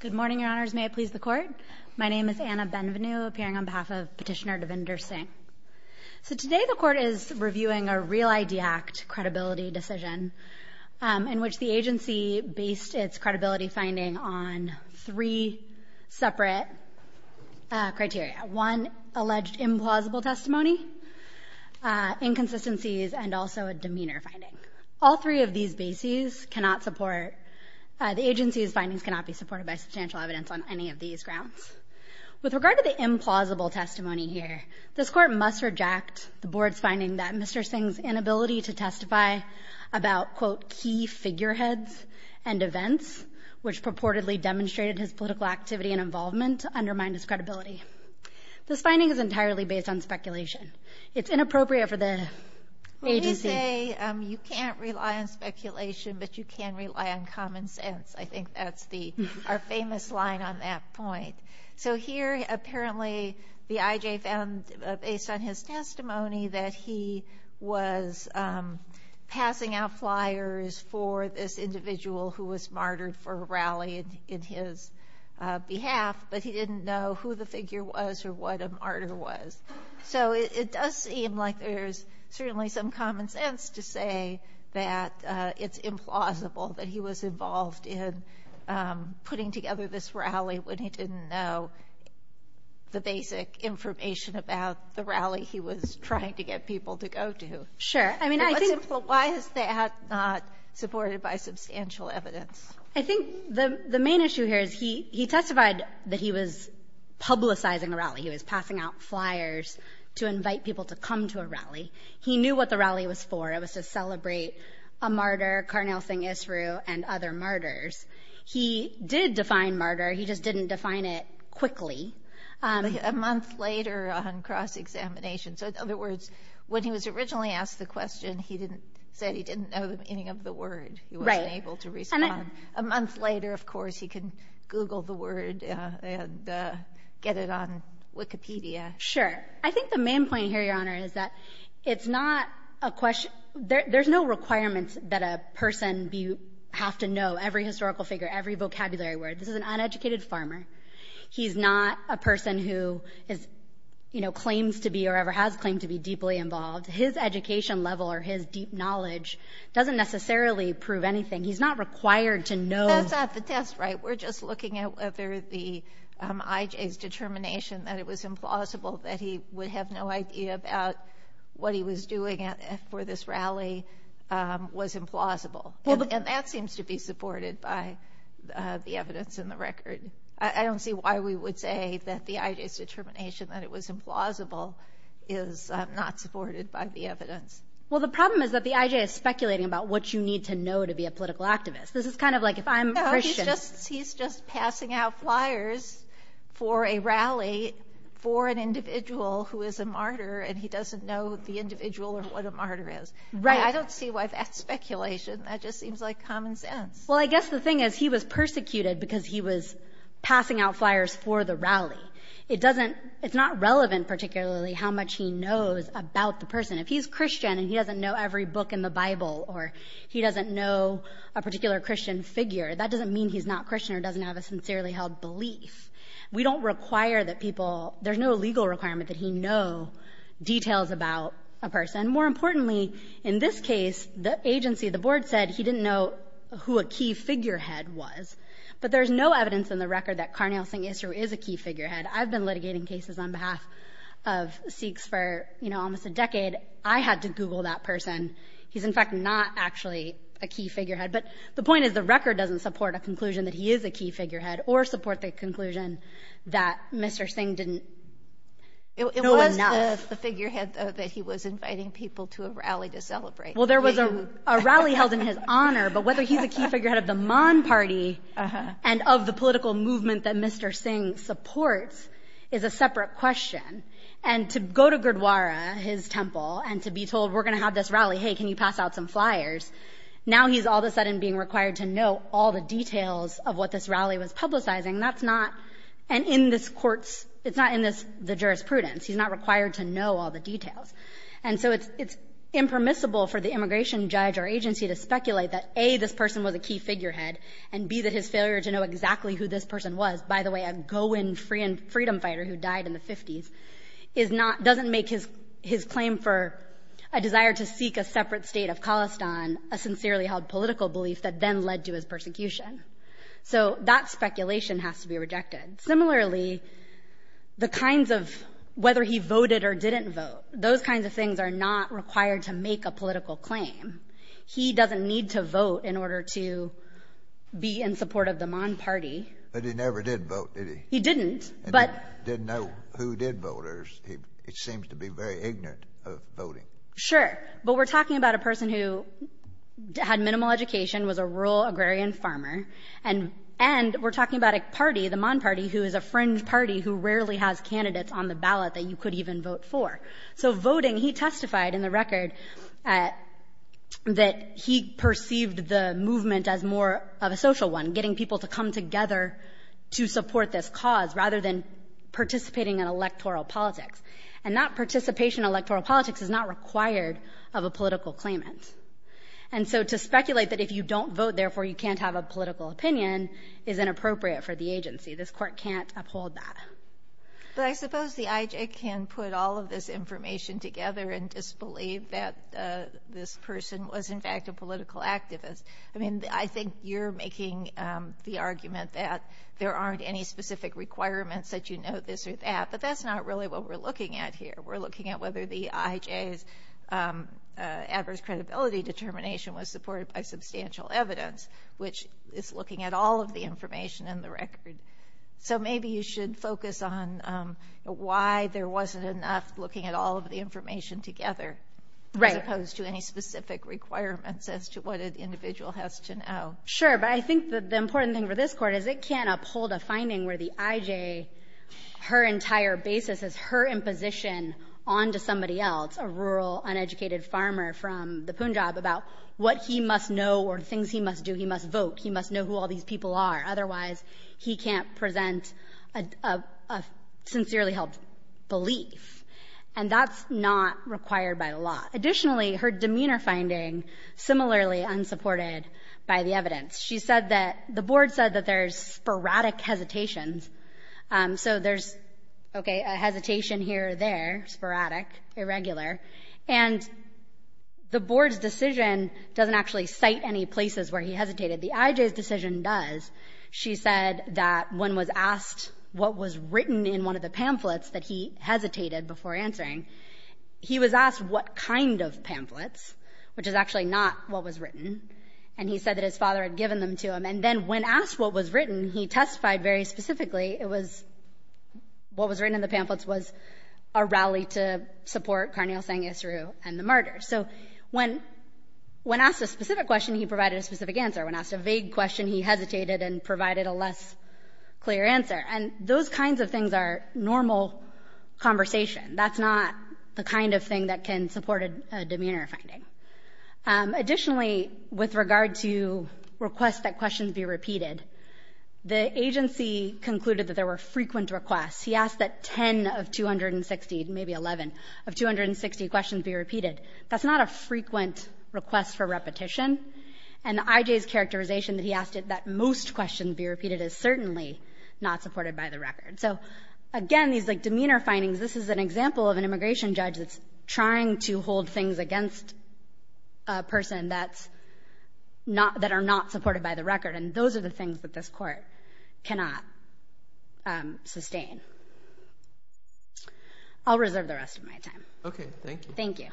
Good morning, Your Honors. May it please the Court. My name is Anna Benvenu, appearing on behalf of Petitioner Devinder Singh. So today the Court is reviewing a Real ID Act credibility decision in which the agency based its credibility finding on three separate criteria. One, alleged implausible testimony, inconsistencies, and also a demeanor finding. All three of these bases cannot support, the agency's findings cannot be supported by substantial evidence on any of these grounds. With regard to the implausible testimony here, this Court must reject the Board's finding that Mr. Singh's inability to testify about, quote, key figureheads and events, which purportedly demonstrated his political activity and involvement, undermined his credibility. This finding is entirely based on speculation. It's inappropriate for the agency. Let me say, you can't rely on speculation, but you can rely on common sense. I think that's our famous line on that point. So here apparently the IJ found, based on his testimony, that he was passing out flyers for this individual who was martyred for a rally in his behalf, but he didn't know who the figure was or what a martyr was. So it does seem like there's certainly some common sense to say that it's implausible that he was involved in putting together this rally when he didn't know the basic information about the rally he was trying to get people to go to. Sure. Why is that not supported by substantial evidence? I think the main issue here is he testified that he was publicizing a rally. He was passing out flyers to invite people to come to a rally. He knew what the rally was for. It was to celebrate a martyr, Karnal Singh Isroo, and other martyrs. He did define martyr, he just didn't define it quickly. A month later on cross-examination. So, in other words, when he was originally asked the question, he said he didn't know the meaning of the word. He wasn't able to respond. A month later, of course, he can Google the word and get it on Wikipedia. Sure. I think the main point here, Your Honor, is that it's not a question — there's no requirement that a person have to know every historical figure, every vocabulary word. This is an uneducated farmer. He's not a person who is, you know, claims to be or ever has claimed to be deeply involved. His education level or his deep knowledge doesn't necessarily prove anything. He's not required to know. That's not the test, right? We're just looking at whether the IJ's determination that it was implausible, that he would have no idea about what he was doing for this rally, was implausible. And that seems to be supported by the evidence in the record. I don't see why we would say that the IJ's determination that it was implausible is not supported by the evidence. Well, the problem is that the IJ is speculating about what you need to know to be a political activist. This is kind of like if I'm a Christian — No, he's just passing out flyers for a rally for an individual who is a martyr, and he doesn't know the individual or what a martyr is. Right. I don't see why that's speculation. That just seems like common sense. Well, I guess the thing is, he was persecuted because he was passing out flyers for the rally. It doesn't — it's not relevant, particularly, how much he knows about the person. If he's Christian and he doesn't know every book in the Bible or he doesn't know a particular Christian figure, that doesn't mean he's not Christian or doesn't have a sincerely held belief. We don't require that people — there's no legal requirement that he know details about a person. More importantly, in this case, the agency, the board, said he didn't know who a key figurehead was. But there's no evidence in the record that Karnal Singh Isru is a key figurehead. I've been litigating cases on behalf of Sikhs for, you know, almost a decade. I had to Google that person. He's, in fact, not actually a key figurehead. But the point is, the record doesn't support a conclusion that he is a key figurehead or support the conclusion that Mr. Singh didn't know enough. It was the figurehead, though, that he was inviting people to a rally to celebrate. Well, there was a rally held in his honor, but whether he's a key figurehead of the courts is a separate question. And to go to Gurdwara, his temple, and to be told, we're going to have this rally, hey, can you pass out some flyers, now he's all of a sudden being required to know all the details of what this rally was publicizing. That's not — and in this court's — it's not in this — the jurisprudence. He's not required to know all the details. And so it's impermissible for the immigration judge or agency to speculate that, A, this person was a key figurehead, and, B, that his failure to know exactly who this person was — by the way, a go-in freedom fighter who died in the 50s — is not — doesn't make his claim for a desire to seek a separate state of Khalistan a sincerely held political belief that then led to his persecution. So that speculation has to be rejected. Similarly, the kinds of — whether he voted or didn't vote, those kinds of things are not required to make a political claim. He doesn't need to vote in order to be in support of the Maan party. But he never did vote, did he? He didn't. But — Didn't know who did vote or — he seems to be very ignorant of voting. Sure. But we're talking about a person who had minimal education, was a rural agrarian farmer, and — and we're talking about a party, the Maan party, who is a fringe party who rarely has candidates on the ballot that you could even vote for. So voting, he testified in the record that he perceived the movement as more of a social one, getting people to come together to support this cause, rather than participating in electoral politics. And that participation in electoral politics is not required of a political claimant. And so to speculate that if you don't vote, therefore, you can't have a political opinion is inappropriate for the agency. This Court can't uphold that. But I suppose the IJ can put all of this information together and disbelieve that this person was, in fact, a political activist. I mean, I think you're making the argument that there aren't any specific requirements that you know this or that, but that's not really what we're looking at here. We're looking at whether the IJ's adverse credibility determination was supported by substantial evidence, which is looking at all of the information in the record. So maybe you should focus on why there wasn't enough looking at all of the information put together as opposed to any specific requirements as to what an individual has to know. Sure. But I think the important thing for this Court is it can't uphold a finding where the IJ, her entire basis is her imposition on to somebody else, a rural, uneducated farmer from the Punjab, about what he must know or things he must do. He must vote. He must know who all these people are. Otherwise, he can't present a sincerely held belief. And that's not required by law. Additionally, her demeanor finding, similarly unsupported by the evidence. She said that the Board said that there's sporadic hesitations. So there's, okay, a hesitation here or there, sporadic, irregular. And the Board's decision doesn't actually cite any places where he hesitated. The IJ's decision does. She said that when was asked what was written in one of the pamphlets that he hesitated before answering, he was asked what kind of pamphlets, which is actually not what was written. And he said that his father had given them to him. And then when asked what was written, he testified very specifically it was, what was written in the pamphlets was a rally to support Karnil Singh Isroo and the murder. So when asked a specific question, he provided a specific answer. When asked a vague question, he hesitated and provided a less clear answer. And those kinds of things are normal conversation. That's not the kind of thing that can support a demeanor finding. Additionally, with regard to requests that questions be repeated, the agency concluded that there were frequent requests. He asked that 10 of 260, maybe 11, of 260 questions be repeated. That's not a frequent request for repetition. And I.J.'s characterization that he asked it that most questions be repeated is certainly not supported by the record. So, again, these, like, demeanor findings, this is an example of an immigration judge that's trying to hold things against a person that's not that are not supported by the record. And those are the things that this Court cannot sustain. I'll reserve the rest of my time. Roberts. Thank you. Thank you.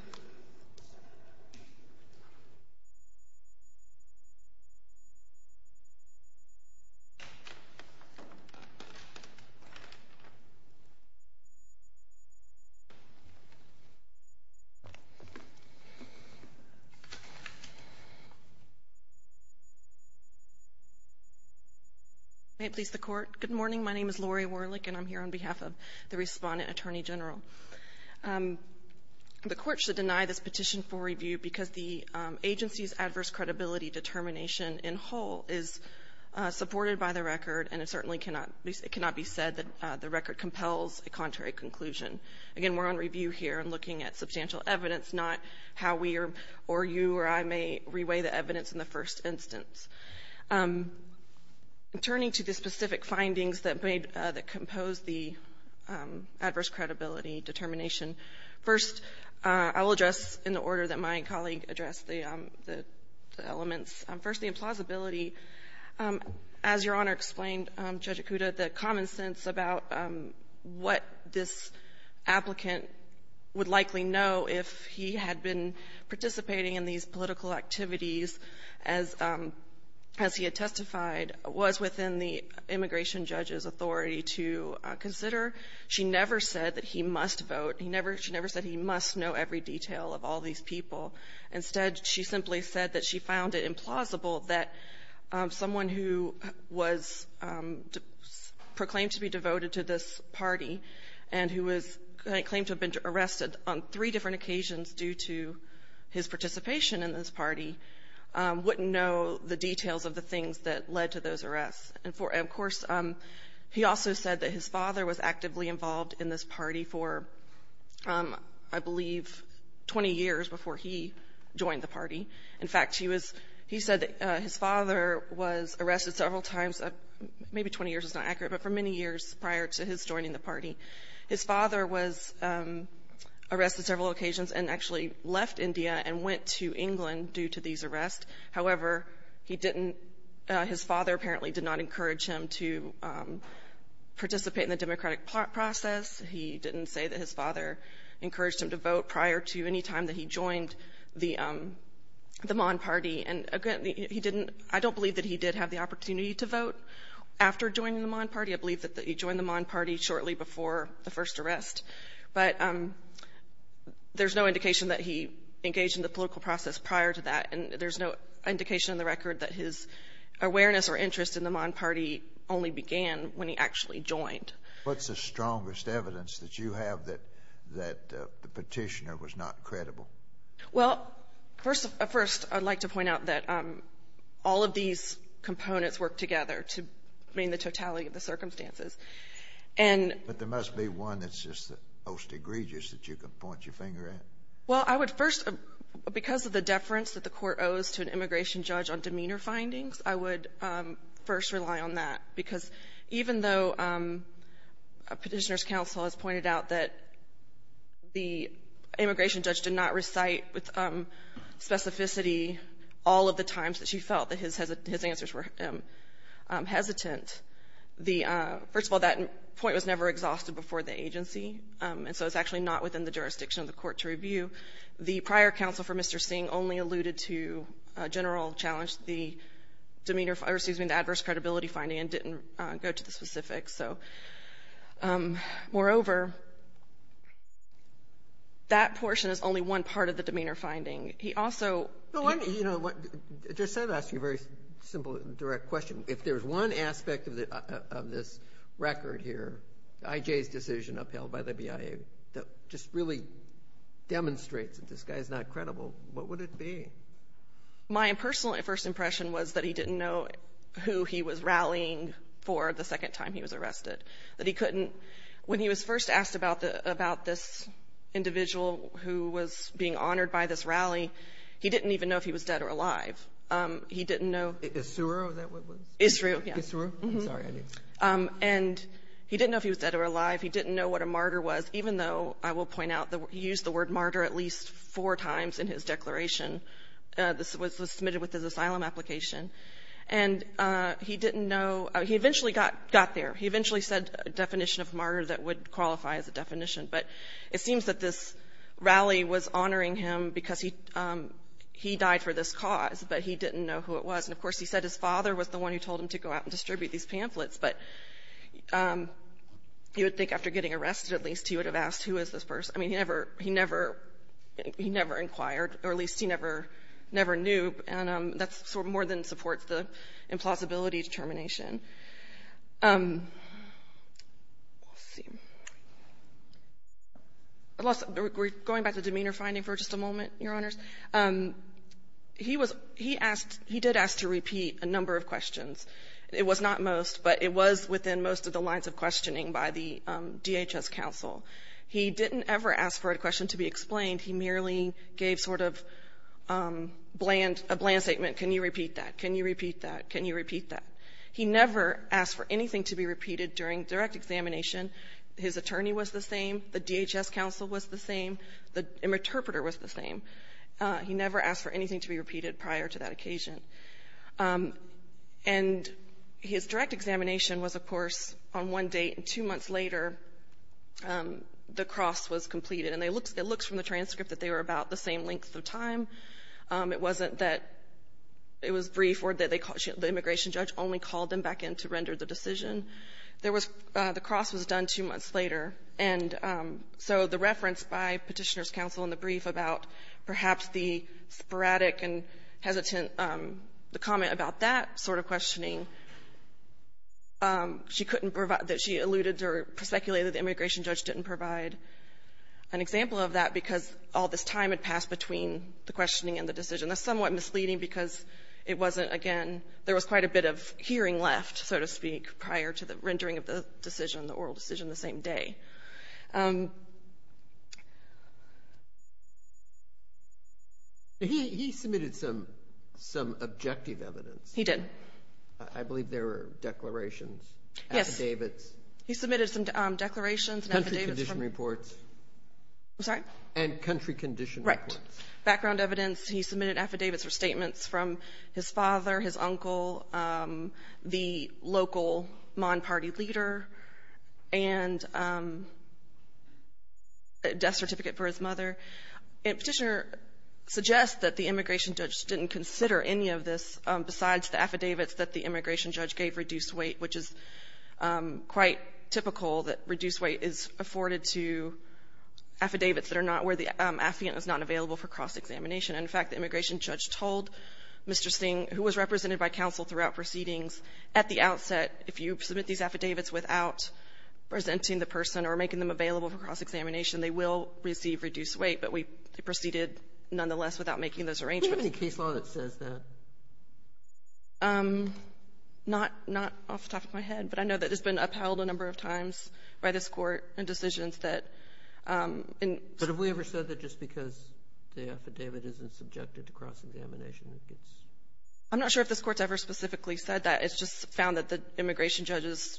May it please the Court. Good morning. My name is Lori Warlick, and I'm here on behalf of the Respondent Attorney General. The Court should deny this petition for review because the agency's adverse credibility determination in whole is supported by the record, and it certainly cannot be said that the record compels a contrary conclusion. Again, we're on review here and looking at substantial evidence, not how we or you or I may reweigh the evidence in the first instance. Turning to the specific findings that made, that composed the adverse credibility determination, first, I will address in the order that my colleague addressed the elements. First, the implausibility. As Your Honor explained, Judge Acuda, the common sense about what this applicant would likely know if he had been participating in these political activities as he had testified, was within the immigration judge's authority to consider. She never said that he must vote. He never – she never said he must know every detail of all these people. Instead, she simply said that she found it implausible that someone who was proclaimed to be devoted to this party and who was claimed to have been arrested on three different occasions due to his participation in this party wouldn't know the details of the things that led to those arrests. And, of course, he also said that his father was actively involved in this party for, I believe, 20 years before he joined the party. In fact, he was – he said that his father was arrested several times, maybe 20 years is not accurate, but for many years prior to his joining the party. His father was arrested several occasions and actually left India and went to England due to these arrests. However, he didn't – his father apparently did not encourage him to participate in the democratic process. He didn't say that his father encouraged him to vote prior to any time that he joined the Mon party. And, again, he didn't – I don't believe that he did have the opportunity to vote after joining the Mon party. I believe that he joined the Mon party shortly before the first arrest. But there's no indication that he engaged in the political process prior to that, and there's no indication in the record that his awareness or interest in the Mon party only began when he actually joined. What's the strongest evidence that you have that the Petitioner was not credible? Well, first of all, first, I'd like to point out that all of these components work together to mean the totality of the circumstances. And — But there must be one that's just the most egregious that you can point your finger at. Well, I would first – because of the deference that the Court owes to an immigration judge on demeanor findings, I would first rely on that, because even though a Petitioner's counsel has pointed out that the immigration judge did not recite with specificity all of the times that she felt that his answers were hesitant, the — first of all, that point was never exhausted before the agency, and so it's actually not within the jurisdiction of the Court to review. The prior counsel for Mr. Singh only alluded to a general challenge, the demeanor — or excuse me, the adverse credibility finding, and didn't go to the specifics. So, moreover, that portion is only one part of the demeanor finding. He also — Well, you know, what — I just have to ask you a very simple, direct question. If there's one aspect of this record here, I.J.'s decision upheld by the BIA, that just really demonstrates that this guy is not credible, what would it be? My personal first impression was that he didn't know who he was rallying for the second time he was arrested, that he couldn't — when he was first asked about this individual who was being honored by this rally, he didn't even know if he was dead or alive. He didn't know — Issuer? Is that what it was? Issuer, yes. Issuer? Sorry. And he didn't know if he was dead or alive. He didn't know what a martyr was, even though, I will point out, he used the word martyr at least four times in his declaration. This was submitted with his asylum application. And he didn't know — he eventually got there. He eventually said a definition of martyr that would qualify as a definition. But it seems that this rally was honoring him because he died for this cause, but he didn't know who it was. And, of course, he said his father was the one who told him to go out and distribute these pamphlets. But you would think after getting arrested, at least, he would have asked, who is this person? I mean, he never — he never inquired, or at least he never knew. And that more than supports the implausibility determination. We'll see. We're going back to demeanor finding for just a moment, Your Honors. He was — he asked — he did ask to repeat a number of questions. It was not most, but it was within most of the lines of questioning by the DHS counsel. He didn't ever ask for a question to be explained. He merely gave sort of bland — a bland statement. Can you repeat that? Can you repeat that? Can you repeat that? He never asked for anything to be repeated during direct examination. His attorney was the same. The DHS counsel was the same. The interpreter was the same. He never asked for anything to be repeated prior to that occasion. And his direct examination was, of course, on one date. And two months later, the cross was completed. And it looks from the transcript that they were about the same length of time. It wasn't that it was brief or that they — the immigration judge only called them back in to render the decision. There was — the cross was done two months later. And so the reference by Petitioner's counsel in the brief about perhaps the sporadic and hesitant — the comment about that sort of questioning, she couldn't provide — that she alluded to or speculated the immigration judge didn't provide an example of that because all this time had passed between the questioning and the decision. That's somewhat misleading because it wasn't, again — there was quite a bit of hearing left, so to speak, prior to the rendering of the decision, the oral decision the same day. He submitted some objective evidence. I believe there were declarations, affidavits. Yes. He submitted some declarations and affidavits from — Okay. And country condition records. Right. Background evidence. He submitted affidavits or statements from his father, his uncle, the local Mon party leader, and a death certificate for his mother. And Petitioner suggests that the immigration judge didn't consider any of this besides the affidavits that the immigration judge gave reduced weight, which is quite typical that reduced weight is afforded to affidavits that are not where the affidavit is not available for cross-examination. And, in fact, the immigration judge told Mr. Singh, who was represented by counsel throughout proceedings, at the outset, if you submit these affidavits without presenting the person or making them available for cross-examination, they will receive reduced weight, but we proceeded nonetheless without making those arrangements. Do you have any case law that says that? Not off the top of my head, but I know that it's been upheld a number of times by this Court in decisions that — But have we ever said that just because the affidavit isn't subjected to cross-examination that it's — I'm not sure if this Court's ever specifically said that. It's just found that the immigration judge's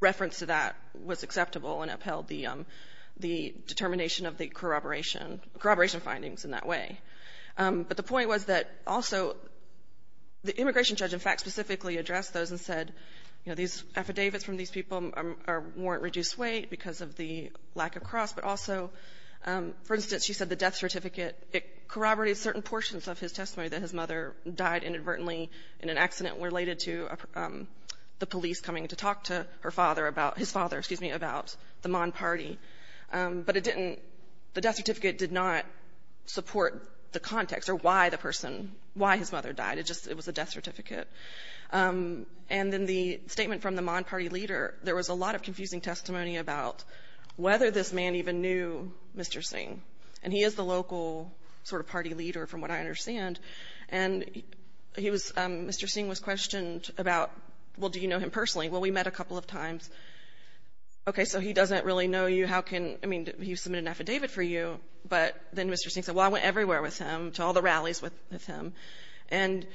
reference to that was acceptable and upheld the determination of the corroboration findings in that way. But the point was that also the immigration judge, in fact, specifically addressed those and said, you know, these affidavits from these people warrant reduced weight because of the lack of cross, but also, for instance, she said the death certificate corroborated certain portions of his testimony that his mother died inadvertently in an accident related to the police coming to talk to her father about — his father, excuse me, about the Mon Party. But it didn't — the death certificate did not support the context or why the person — why his mother died. It just — it was a death certificate. And in the statement from the Mon Party leader, there was a lot of confusing testimony about whether this man even knew Mr. Singh, and he is the local sort of party leader, from what I understand. And he was — Mr. Singh was questioned about, well, do you know him personally? Well, we met a couple of times. Okay, so he doesn't really know you. How can — I mean, he submitted an affidavit for you, but then Mr. Singh said, well, I went everywhere with him, to all the rallies with him. And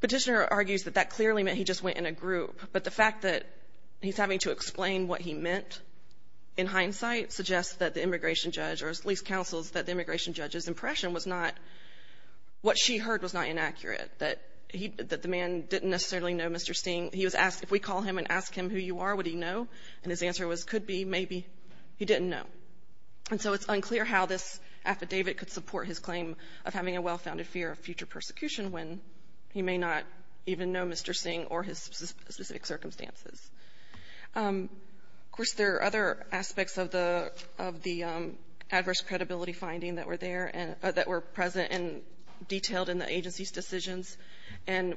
Petitioner argues that that clearly meant he just went in a group, but the fact that he's having to explain what he meant in hindsight suggests that the immigration judge, or at least counsels that the immigration judge's impression was not — what the man didn't necessarily know Mr. Singh. He was asked, if we call him and ask him who you are, would he know? And his answer was, could be, maybe. He didn't know. And so it's unclear how this affidavit could support his claim of having a well-founded fear of future persecution when he may not even know Mr. Singh or his specific circumstances. Of course, there are other aspects of the — of the adverse credibility finding that were there and — that were present and detailed in the agency's decisions. And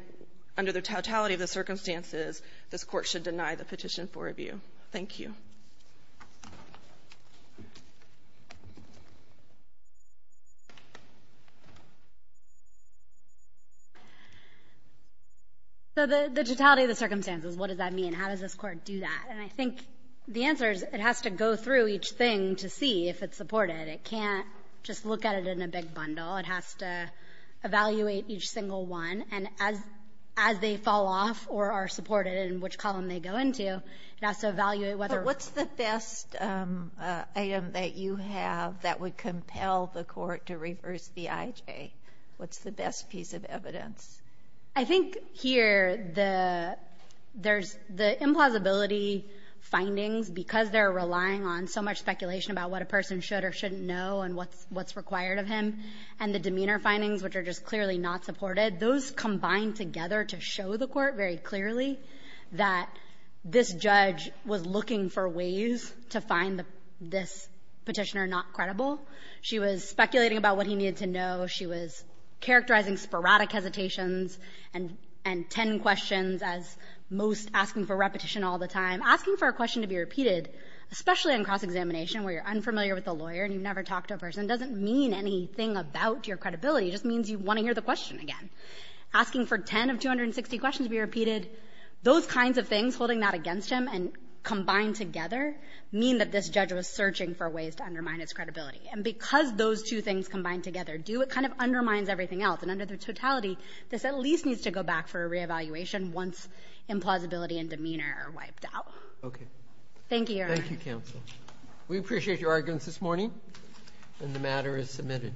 under the totality of the circumstances, this Court should deny the petition for review. Thank you. So the totality of the circumstances, what does that mean? How does this Court do that? And I think the answer is it has to go through each thing to see if it's supported. It can't just look at it in a big bundle. It has to evaluate each single one. And as — as they fall off or are supported and which column they go into, it has to evaluate whether — But what's the best item that you have that would compel the Court to reverse the IJ? What's the best piece of evidence? I think here the — there's — the implausibility findings, because they're relying on so much speculation about what a person should or shouldn't know and what's — what's required of him, and the demeanor findings, which are just clearly not supported. Those combine together to show the Court very clearly that this judge was looking for ways to find the — this petitioner not credible. She was speculating about what he needed to know. She was characterizing sporadic hesitations and — and 10 questions as most asking for repetition all the time. Asking for a question to be repeated, especially in cross-examination where you're unfamiliar with the lawyer and you've never talked to a person, doesn't mean anything about your credibility. It just means you want to hear the question again. Asking for 10 of 260 questions to be repeated, those kinds of things, holding that against him and combined together, mean that this judge was searching for ways to undermine his credibility. And because those two things combined together do, it kind of undermines everything else. And under the totality, this at least needs to go back for a reevaluation once implausibility and demeanor are wiped out. Okay. Thank you, Your Honor. Thank you, Counsel. We appreciate your arguments this morning. And the matter is submitted.